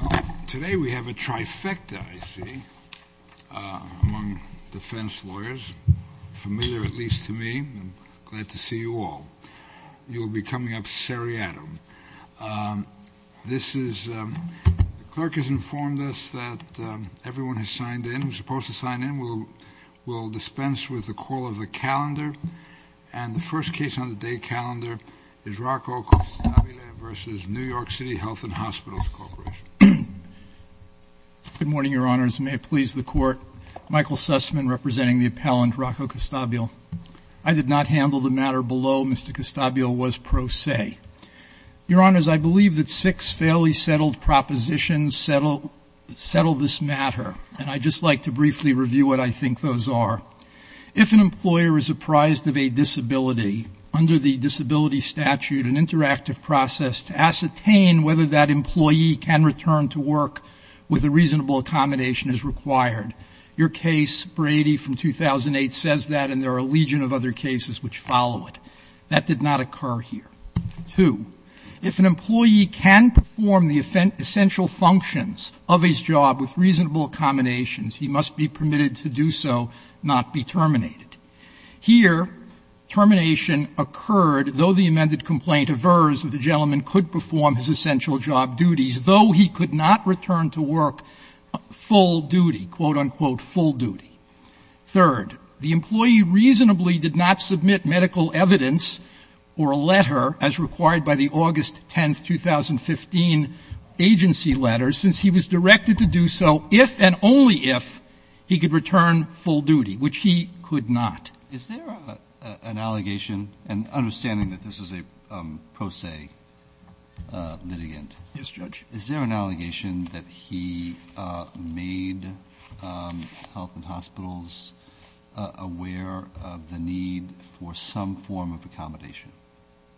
Well, today we have a trifecta, I see, among defense lawyers, familiar at least to me. I'm glad to see you all. You will be coming up seriatim. This is – the clerk has informed us that everyone has signed in. Who's supposed to sign in will dispense with the call of a calendar. And the first case on the day calendar is Rocco Costabile v. NYC Health & Hosp. Good morning, Your Honors. May it please the Court. Michael Sussman, representing the appellant Rocco Costabile. I did not handle the matter below. Mr. Costabile was pro se. Your Honors, I believe that six fairly settled propositions settle this matter. And I'd just like to briefly review what I think those are. If an employer is apprised of a disability, under the disability statute, an interactive process to ascertain whether that employee can return to work with a reasonable accommodation is required. Your case, Brady, from 2008, says that, and there are a legion of other cases which follow it. That did not occur here. Two, if an employee can perform the essential functions of his job with reasonable accommodations, he must be permitted to do so, not be terminated. Here, termination occurred, though the amended complaint averse that the gentleman could perform his essential job duties, though he could not return to work full duty, quote, unquote, full duty. Third, the employee reasonably did not submit medical evidence or a letter, as required by the August 10th, 2015 agency letter, since he was directed to do so if and only if he could return full duty, which he could not. Is there an allegation, and understanding that this is a pro se litigant. Yes, Judge. Is there an allegation that he made health and hospitals aware of the need for some form of accommodation?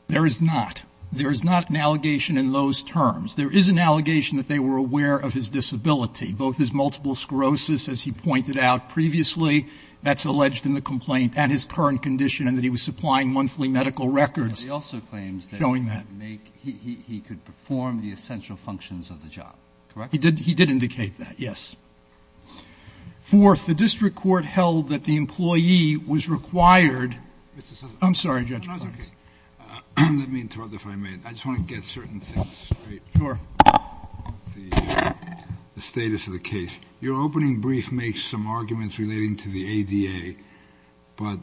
There is not. There is not an allegation in those terms. There is an allegation that they were aware of his disability, both his multiple sclerosis, as he pointed out previously. That's alleged in the complaint, and his current condition, and that he was supplying monthly medical records showing that. He also claims that he could perform the essential functions of the job, correct? He did indicate that, yes. Fourth, the district court held that the employee was required. I'm sorry, Judge. Let me interrupt if I may. I just want to get certain things straight. Sure. The status of the case. Your opening brief makes some arguments relating to the ADA, but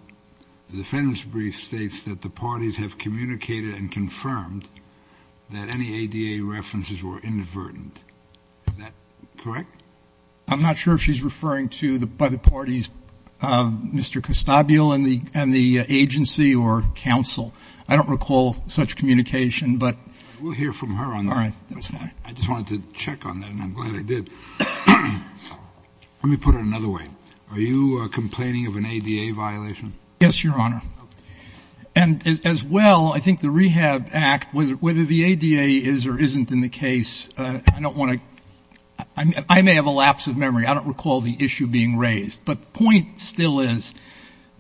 the defendant's brief states that the parties have communicated and confirmed that any ADA references were inadvertent. Is that correct? I'm not sure if she's referring to the parties, Mr. Costabile and the agency or counsel. I don't recall such communication. We'll hear from her on that. All right. That's fine. I just wanted to check on that, and I'm glad I did. Let me put it another way. Are you complaining of an ADA violation? Yes, Your Honor. And as well, I think the Rehab Act, whether the ADA is or isn't in the case, I don't have a lapse of memory. I don't recall the issue being raised. But the point still is,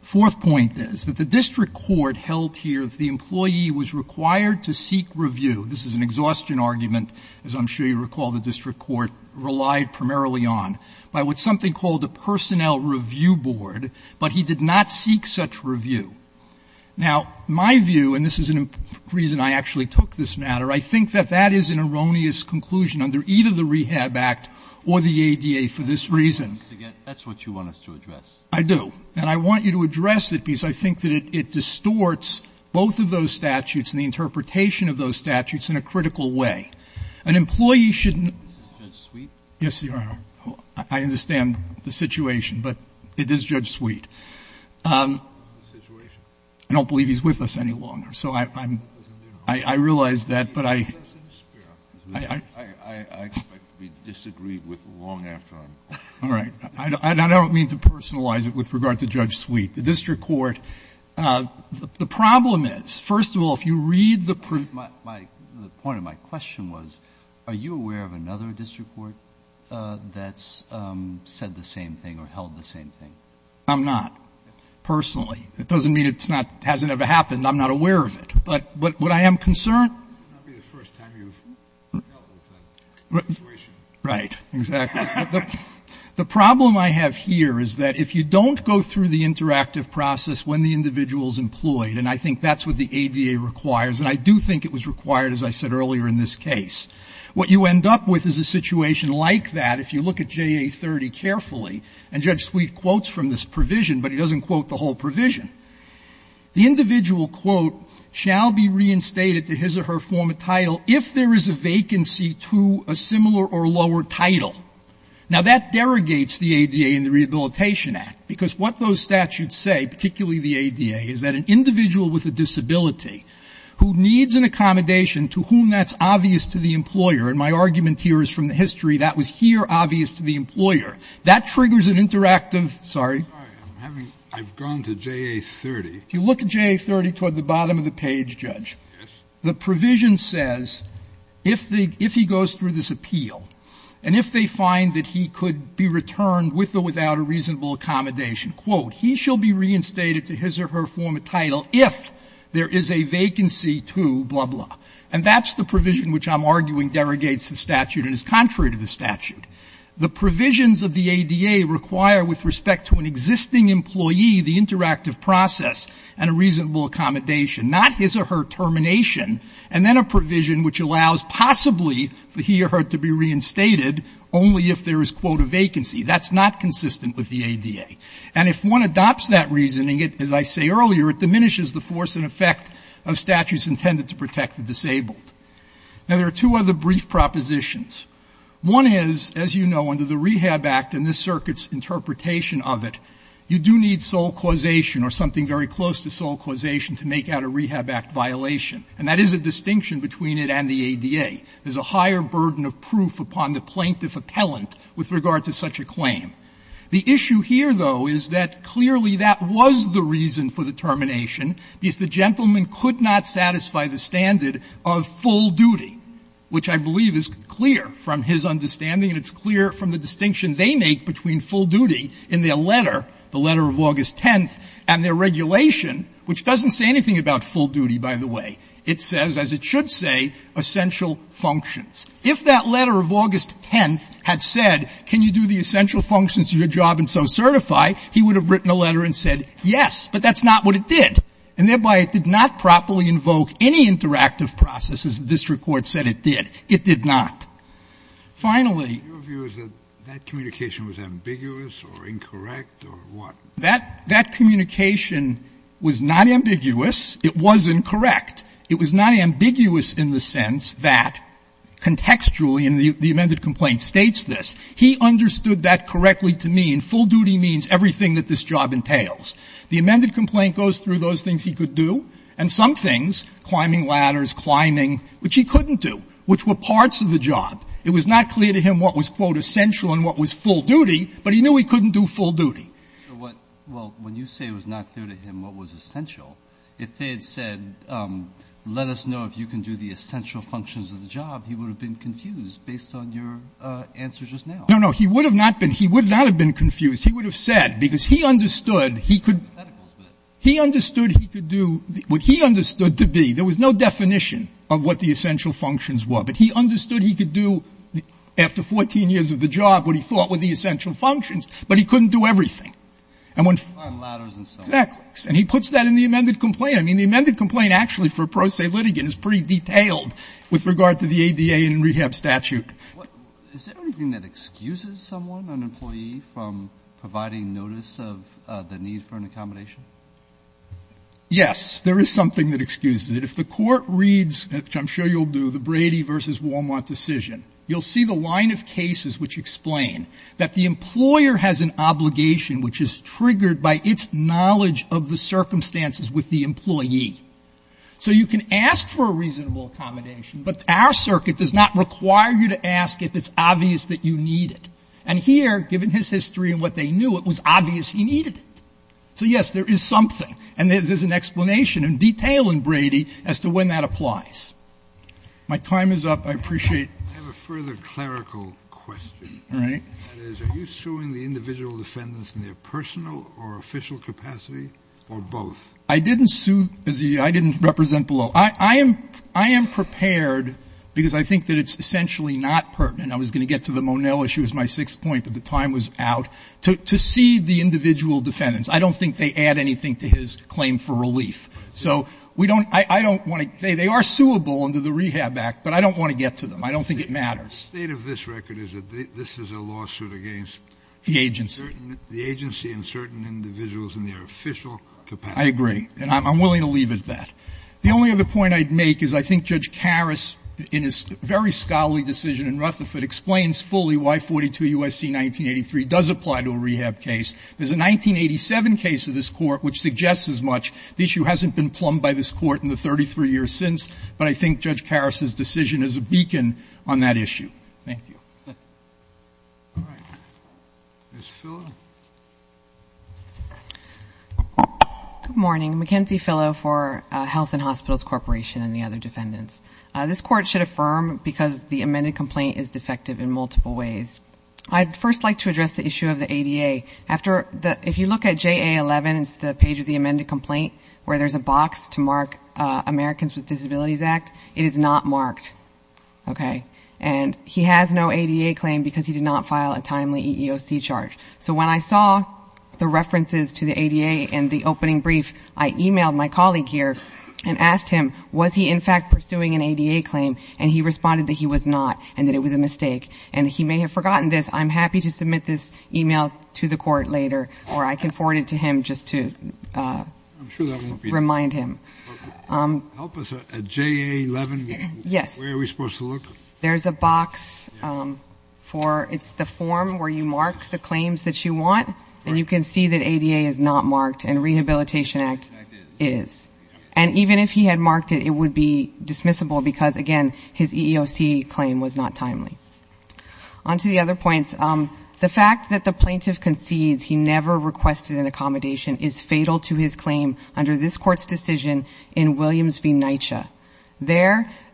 the fourth point is that the district court held here that the employee was required to seek review. This is an exhaustion argument, as I'm sure you recall, the district court relied primarily on, by what's something called a personnel review board, but he did not seek such review. Now, my view, and this is the reason I actually took this matter, I think that that is an erroneous conclusion under either the Rehab Act or the ADA for this reason. That's what you want us to address. I do. And I want you to address it, because I think that it distorts both of those statutes and the interpretation of those statutes in a critical way. An employee shouldn't be. Is this Judge Sweet? Yes, Your Honor. I understand the situation, but it is Judge Sweet. What's the situation? I don't believe he's with us any longer. So I'm, I realize that, but I. I expect to be disagreed with long after I'm. All right. I don't mean to personalize it with regard to Judge Sweet. The district court, the problem is, first of all, if you read the. The point of my question was, are you aware of another district court that's said the same thing or held the same thing? I'm not, personally. It doesn't mean it's not, hasn't ever happened. I'm not aware of it. But what I am concerned. That would not be the first time you've dealt with that situation. Right. Exactly. The problem I have here is that if you don't go through the interactive process when the individual is employed, and I think that's what the ADA requires, and I do think it was required, as I said earlier in this case, what you end up with is a situation like that. If you look at JA30 carefully, and Judge Sweet quotes from this provision, but he doesn't quote the whole provision. The individual, quote, shall be reinstated to his or her former title if there is a vacancy to a similar or lower title. Now, that derogates the ADA and the Rehabilitation Act, because what those statutes say, particularly the ADA, is that an individual with a disability who needs an accommodation to whom that's obvious to the employer, and my argument here is from the history, that was here obvious to the employer. That triggers an interactive, sorry. I'm having, I've gone to JA30. If you look at JA30 toward the bottom of the page, Judge. Yes. The provision says if the, if he goes through this appeal, and if they find that he could be returned with or without a reasonable accommodation, quote, he shall be reinstated to his or her former title if there is a vacancy to blah, blah. And that's the provision which I'm arguing derogates the statute and is contrary to the statute. The provisions of the ADA require with respect to an existing employee the interactive process and a reasonable accommodation, not his or her termination, and then a provision which allows possibly for he or her to be reinstated only if there is, quote, a vacancy. That's not consistent with the ADA. And if one adopts that reasoning, as I say earlier, it diminishes the force and effect of statutes intended to protect the disabled. Now, there are two other brief propositions. One is, as you know, under the Rehab Act and this circuit's interpretation of it, you do need sole causation or something very close to sole causation to make out a Rehab Act violation. And that is a distinction between it and the ADA. There's a higher burden of proof upon the plaintiff appellant with regard to such a claim. The issue here, though, is that clearly that was the reason for the termination because the gentleman could not satisfy the standard of full duty, which I believe is clear from his understanding and it's clear from the distinction they make between full duty in their letter, the letter of August 10th, and their regulation, which doesn't say anything about full duty, by the way. It says, as it should say, essential functions. If that letter of August 10th had said can you do the essential functions of your job and so certify, he would have written a letter and said yes, but that's not what it did, and thereby it did not properly invoke any interactive process, as the district court said it did. It did not. Finally ---- Scalia, your view is that that communication was ambiguous or incorrect or what? That communication was not ambiguous. It was incorrect. It was not ambiguous in the sense that contextually in the amended complaint states this. He understood that correctly to mean full duty means everything that this job entails. The amended complaint goes through those things he could do, and some things, climbing ladders, climbing, which he couldn't do, which were parts of the job. It was not clear to him what was, quote, essential and what was full duty, but he knew he couldn't do full duty. Well, when you say it was not clear to him what was essential, if they had said let us know if you can do the essential functions of the job, he would have been confused based on your answer just now. No, no. He would have not been. He would not have been confused. He would have said, because he understood he could do what he understood to be. There was no definition of what the essential functions were, but he understood he could do after 14 years of the job what he thought were the essential functions, but he couldn't do everything. And when he puts that in the amended complaint, I mean, the amended complaint actually for pro se litigant is pretty detailed with regard to the ADA and rehab statute. Is there anything that excuses someone, an employee, from providing notice of the need for an accommodation? Yes. There is something that excuses it. If the court reads, which I'm sure you'll do, the Brady versus Wal-Mart decision, you'll see the line of cases which explain that the employer has an obligation which is triggered by its knowledge of the circumstances with the employee. So you can ask for a reasonable accommodation, but our circuit does not require you to ask if it's obvious that you need it. And here, given his history and what they knew, it was obvious he needed it. So, yes, there is something. And there's an explanation in detail in Brady as to when that applies. My time is up. I appreciate it. I have a further clerical question. All right. That is, are you suing the individual defendants in their personal or official capacity, or both? I didn't sue. I didn't represent below. I am prepared, because I think that it's essentially not pertinent. I was going to get to the Monell issue as my sixth point, but the time was out, to see the individual defendants. I don't think they add anything to his claim for relief. So we don't — I don't want to — they are suable under the Rehab Act, but I don't want to get to them. I don't think it matters. The state of this record is that this is a lawsuit against — The agency. — the agency and certain individuals in their official capacity. I agree. And I'm willing to leave it at that. The only other point I'd make is I think Judge Karras, in his very scholarly decision in Rutherford, explains fully why 42 U.S.C. 1983 does apply to a rehab case. There's a 1987 case of this Court which suggests as much. The issue hasn't been plumbed by this Court in the 33 years since, but I think Judge Karras's decision is a beacon on that issue. Thank you. All right. Ms. Fillo. Good morning. Mackenzie Fillo for Health and Hospitals Corporation and the other defendants. This Court should affirm because the amended complaint is defective in multiple ways. I'd first like to address the issue of the ADA. After the — if you look at JA11, it's the page of the amended complaint where there's a box to mark Americans with Disabilities Act, it is not marked. Okay? And he has no ADA claim because he did not file a timely EEOC charge. So when I saw the references to the ADA in the opening brief, I emailed my colleague here and asked him, was he in fact pursuing an ADA claim? And he responded that he was not and that it was a mistake. And he may have forgotten this. I'm happy to submit this email to the Court later or I can forward it to him just to remind him. Help us at JA11, where are we supposed to look? There's a box for — it's the form where you mark the claims that you want and you can see that ADA is not marked and Rehabilitation Act is. And even if he had marked it, it would be dismissible because, again, his EEOC claim was not timely. On to the other points. The fact that the plaintiff concedes he never requested an accommodation is fatal to his claim under this Court's decision in Williams v. NYCHA,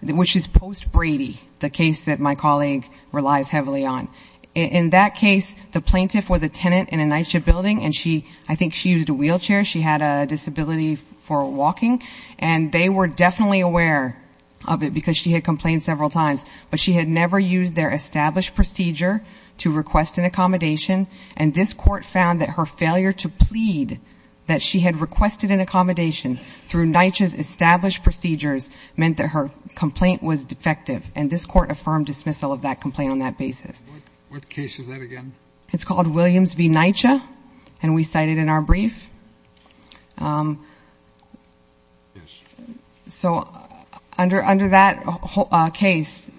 which is post-Brady, the case that my colleague relies heavily on. In that case, the plaintiff was a tenant in a NYCHA building and I think she used a wheelchair. She had a disability for walking. And they were definitely aware of it because she had complained several times, but she had never used their established procedure to request an accommodation and this Court found that her failure to plead that she had requested an accommodation through NYCHA's established procedures meant that her complaint was defective and this Court affirmed dismissal of that complaint on that basis. What case is that again? It's called Williams v. NYCHA and we cite it in our brief. So under that case,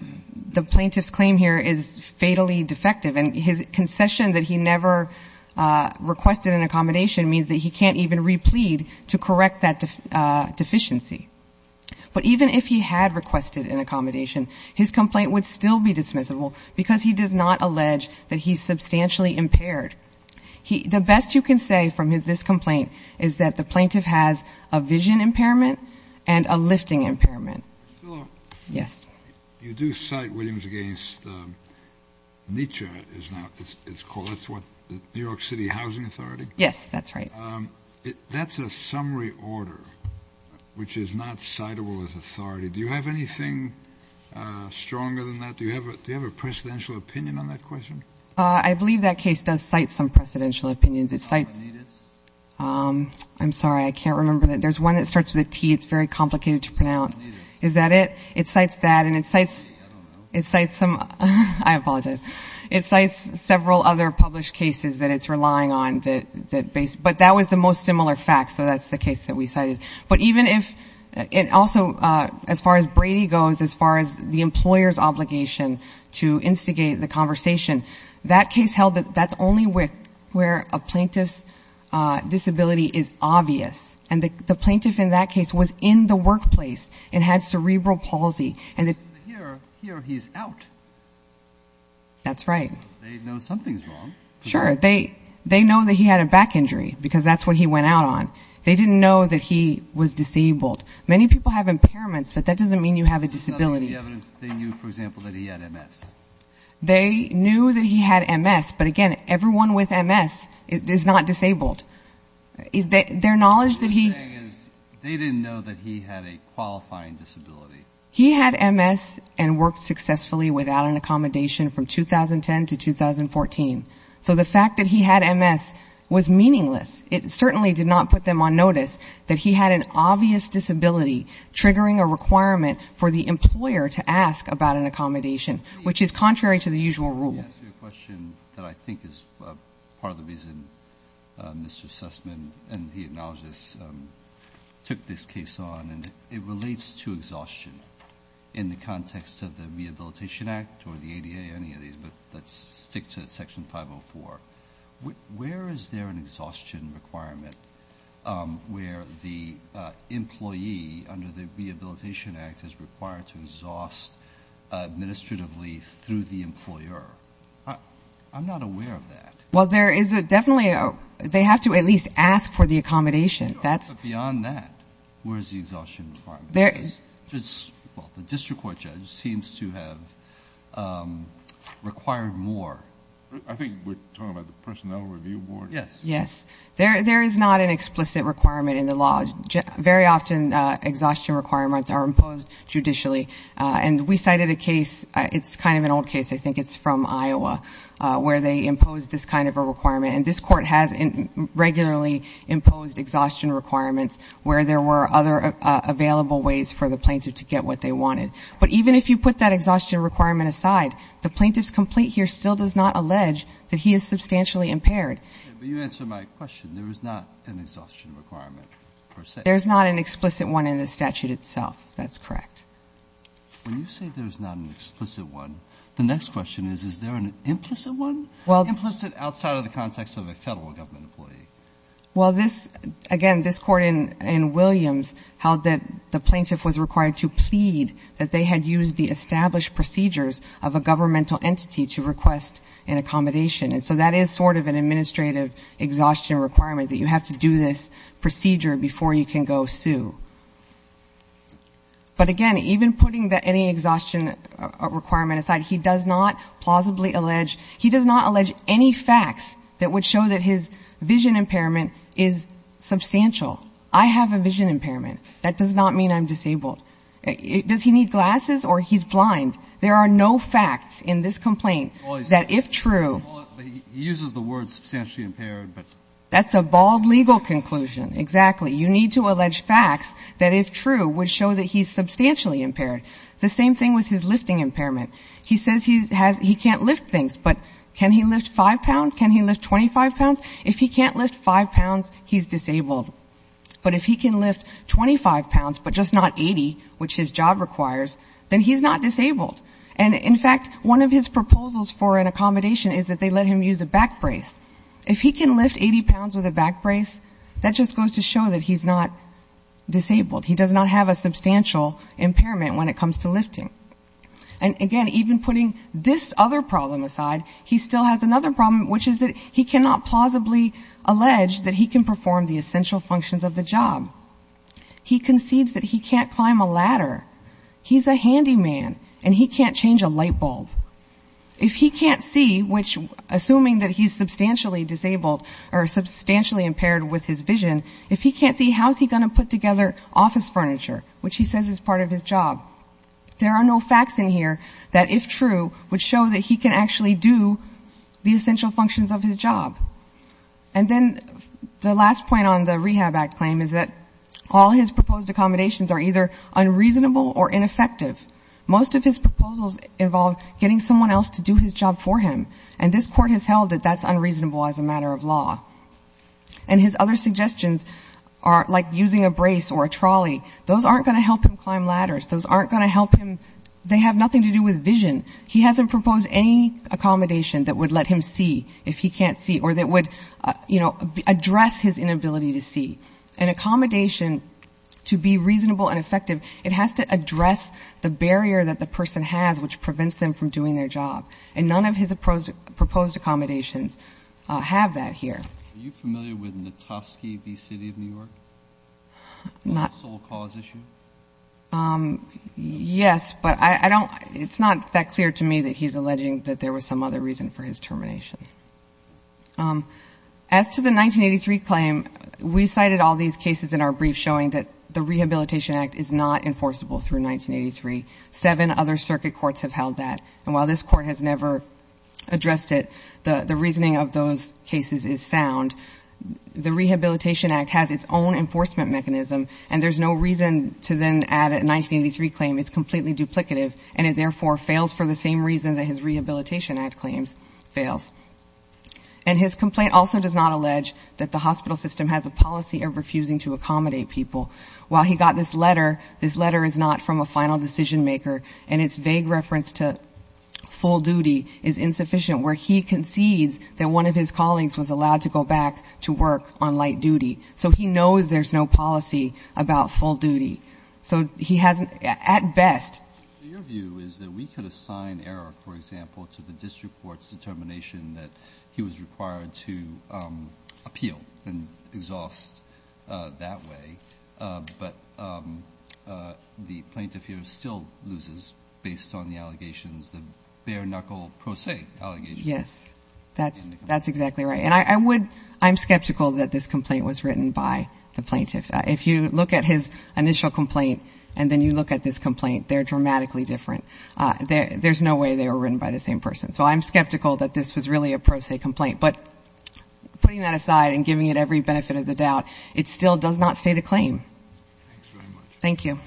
the plaintiff's claim here is fatally defective and his concession that he never requested an accommodation means that he can't even replead to correct that deficiency. But even if he had requested an accommodation, his complaint would still be dismissible because he does not allege that he's substantially impaired. The best you can say from this complaint is that the plaintiff has a vision impairment and a lifting impairment. You do cite Williams against NYCHA, that's what, the New York City Housing Authority? Yes, that's right. That's a summary order, which is not citable as authority. Do you have anything stronger than that? Do you have a presidential opinion on that question? I believe that case does cite some presidential opinions. It cites, I'm sorry, I can't remember. There's one that starts with a T, it's very complicated to pronounce. Is that it? It cites that and it cites some, I apologize, it cites several other published cases that it's relying on, but that was the most similar fact, so that's the case that we cited. But even if, it also, as far as Brady goes, as far as the employer's obligation to instigate the conversation, that case held that that's only where a plaintiff's disability is obvious. And the plaintiff in that case was in the workplace and had cerebral palsy. Here he's out. That's right. They know something's wrong. Sure. They know that he had a back injury because that's what he went out on. They didn't know that he was disabled. Many people have impairments, but that doesn't mean you have a disability. The evidence that they knew, for example, that he had MS. They knew that he had MS, but again, everyone with MS is not disabled. Their knowledge that he... What they're saying is they didn't know that he had a qualifying disability. He had MS and worked successfully without an accommodation from 2010 to 2014. So the fact that he had MS was meaningless. It certainly did not put them on notice that he had an obvious disability triggering a requirement for the employer to ask about an accommodation, which is contrary to the usual rule. Let me ask you a question that I think is part of the reason Mr. Sussman, and he acknowledged this, took this case on. And it relates to exhaustion in the context of the Rehabilitation Act or the ADA, any of these, but let's stick to Section 504. Where is there an exhaustion requirement where the employee under the Rehabilitation Act is required to exhaust administratively through the employer? I'm not aware of that. Well, there is definitely... They have to at least ask for the accommodation. That's... Beyond that, where is the exhaustion requirement? The district court judge seems to have required more. I think we're talking about the Personnel Review Board. Yes. Yes. There is not an explicit requirement in the law. Very often, exhaustion requirements are imposed judicially. And we cited a case, it's kind of an old case, I think it's from Iowa, where they imposed this kind of a requirement. And this Court has regularly imposed exhaustion requirements where there were other available ways for the plaintiff to get what they wanted. But even if you put that exhaustion requirement aside, the plaintiff's complaint here still does not allege that he is substantially impaired. But you answered my question. There is not an exhaustion requirement, per se. There's not an explicit one in the statute itself. That's correct. When you say there's not an explicit one, the next question is, is there an implicit one? Well... Implicit outside of the context of a Federal government employee. Well, this, again, this Court in Williams held that the plaintiff was required to plead that they had used the established procedures of a governmental entity to request an accommodation. And so that is sort of an administrative exhaustion requirement, that you have to do this procedure before you can go sue. But, again, even putting any exhaustion requirement aside, he does not plausibly allege, he does not allege any facts that would show that his vision impairment is substantial. I have a vision impairment. That does not mean I'm disabled. Does he need glasses or he's blind? There are no facts in this complaint that, if true... He uses the word substantially impaired, but... That's a bald legal conclusion. Exactly. You need to allege facts that, if true, would show that he's substantially impaired. The same thing with his lifting impairment. He says he can't lift things, but can he lift 5 pounds? Can he lift 25 pounds? If he can't lift 5 pounds, he's disabled. But if he can lift 25 pounds, but just not 80, which his job requires, then he's not disabled. And, in fact, one of his proposals for an accommodation is that they let him use a back brace. If he can lift 80 pounds with a back brace, that just goes to show that he's not disabled. He does not have a substantial impairment when it comes to lifting. And, again, even putting this other problem aside, he still has another problem, which is that he cannot plausibly allege that he can perform the essential functions of the job. He concedes that he can't climb a ladder. He's a handyman, and he can't change a light bulb. If he can't see, which, assuming that he's substantially disabled, or substantially impaired with his vision, if he can't see, how's he going to put together office furniture, which he says is part of his job? There are no facts in here that, if true, would show that he can actually do the essential functions of his job. And then the last point on the Rehab Act claim is that all his proposed accommodations are either unreasonable or ineffective. Most of his proposals involve getting someone else to do his job for him, and this Court has held that that's unreasonable as a matter of law. And his other suggestions are, like, using a brace or a trolley. Those aren't going to help him climb ladders. Those aren't going to help him. They have nothing to do with vision. He hasn't proposed any accommodation that would let him see, if he can't see, or that would, you know, address his inability to see. An accommodation, to be reasonable and effective, it has to address the barrier that the person has, which prevents them from doing their job. And none of his proposed accommodations have that here. Are you familiar with Natofsky v. City of New York? Not. The sole cause issue? Yes, but I don't, it's not that clear to me that he's alleging that there was some other reason for his termination. As to the 1983 claim, we cited all these cases in our brief showing that the Rehabilitation Act is not enforceable through 1983. Seven other circuit courts have held that. And while this Court has never addressed it, the reasoning of those cases is sound. The Rehabilitation Act has its own enforcement mechanism, and there's no reason to then add a 1983 claim. It's completely duplicative, and it, therefore, fails for the same reason that his Rehabilitation Act claims fails. And his complaint also does not allege that the hospital system has a policy of refusing to accommodate people. While he got this letter, this letter is not from a final decision-maker, and its vague reference to full duty is insufficient, where he concedes that one of his colleagues was allowed to go back to work on light duty. So he knows there's no policy about full duty. So he hasn't, at best... So your view is that we could assign error, for example, to the district court's determination that he was required to appeal and exhaust that way, but the plaintiff here still loses, based on the allegations, the bare-knuckle pro se allegations. Yes, that's exactly right. And I would... I'm skeptical that this complaint was written by the plaintiff. If you look at his initial complaint, and then you look at this complaint, they're dramatically different. There's no way they were written by the same person. So I'm skeptical that this was really a pro se complaint. But putting that aside and giving it every benefit of the doubt, it still does not state a claim. Thanks very much. Thank you.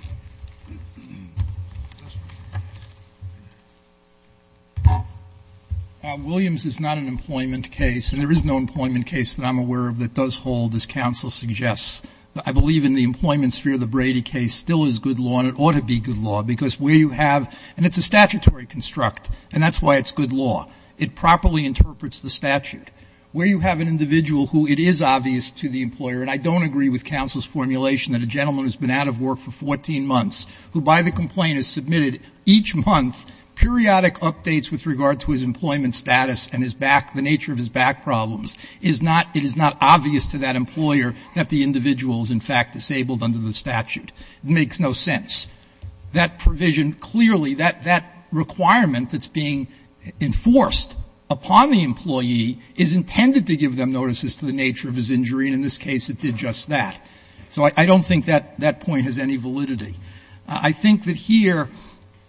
Williams is not an employment case, and there is no employment case that I'm aware of that does hold, as counsel suggests. I believe in the employment sphere, the Brady case still is good law, and it ought to be good law, because where you have... And it's a statutory construct, and that's why it's good law. It properly interprets the statute. Where you have an individual who it is obvious to the employer, and I don't agree with counsel's formulation that a gentleman who's been out of work for 14 months, who by the complaint is submitted each month, periodic updates with regard to his employment status and the nature of his back problems, it is not obvious to that employer that the individual is in fact disabled under the statute. It makes no sense. That provision clearly, that requirement that's being enforced upon the employee is intended to give them notices to the nature of his injury, and in this case it did just that. So I don't think that point has any validity. I think that here,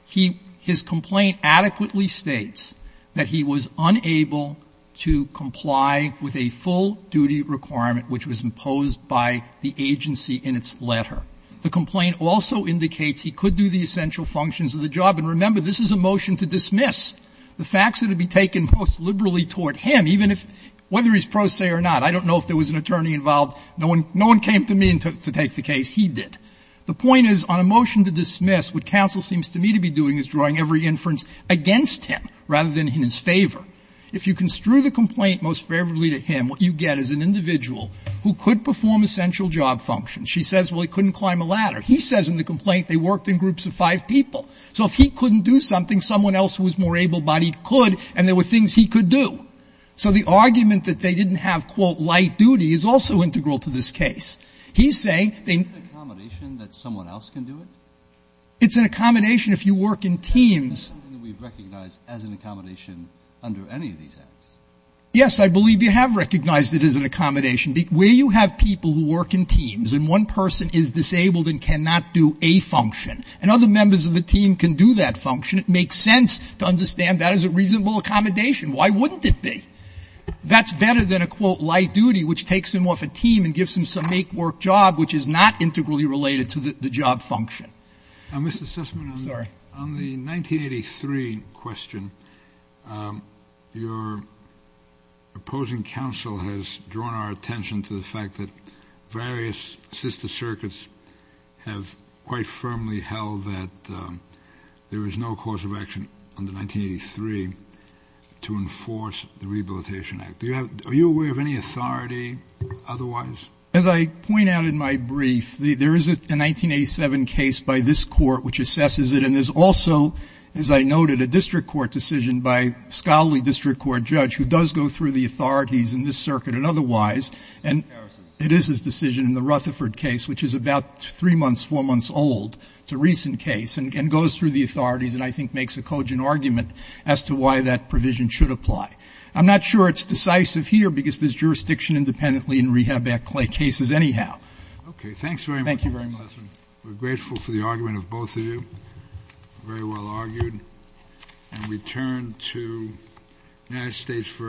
his complaint adequately states that he was unable to comply with a full duty requirement which was imposed by the agency in its letter. The complaint also indicates he could do the essential functions of the job. And remember, this is a motion to dismiss the facts that would be taken most liberally toward him, even if, whether he's pro se or not. I don't know if there was an attorney involved. No one came to me to take the case. He did. The point is, on a motion to dismiss, what counsel seems to me to be doing is drawing every inference against him rather than in his favor. If you construe the complaint most favorably to him, what you get is an individual who could perform essential job functions. She says, well, he couldn't climb a ladder. He says in the complaint they worked in groups of five people. So if he couldn't do something, someone else who was more able-bodied could, and there were things he could do. So the argument that they didn't have, quote, light duty is also integral to this case. He's saying they need to do it. Breyer. Isn't it an accommodation that someone else can do it? Sotomayor. It's an accommodation if you work in teams. Breyer. Isn't it something that we've recognized as an accommodation under any of these acts? Sotomayor. Yes, I believe you have recognized it as an accommodation. Where you have people who work in teams and one person is disabled and cannot do a function, and other members of the team can do that function, it makes sense to understand that as a reasonable accommodation. Why wouldn't it be? That's better than a, quote, light duty which takes him off a team and gives him some make-work job which is not integrally related to the job function. Mr. Sussman. Sorry. On the 1983 question, your opposing counsel has drawn our attention to the fact that various sister circuits have quite firmly held that there is no cause of action under 1983 to enforce the Rehabilitation Act. Are you aware of any authority otherwise? As I point out in my brief, there is a 1987 case by this Court which assesses it, and there's also, as I noted, a district court decision by a scholarly district court judge who does go through the authorities in this circuit and otherwise. And it is his decision in the Rutherford case, which is about three months, four months old. It's a recent case and goes through the authorities and I think makes a cogent argument as to why that provision should apply. I'm not sure it's decisive here because there's jurisdiction independently in Rehab Act cases anyhow. Okay. Thanks very much, Mr. Sussman. Thank you very much. We're grateful for the argument of both of you. Very well argued. And we turn to the United States for a vote.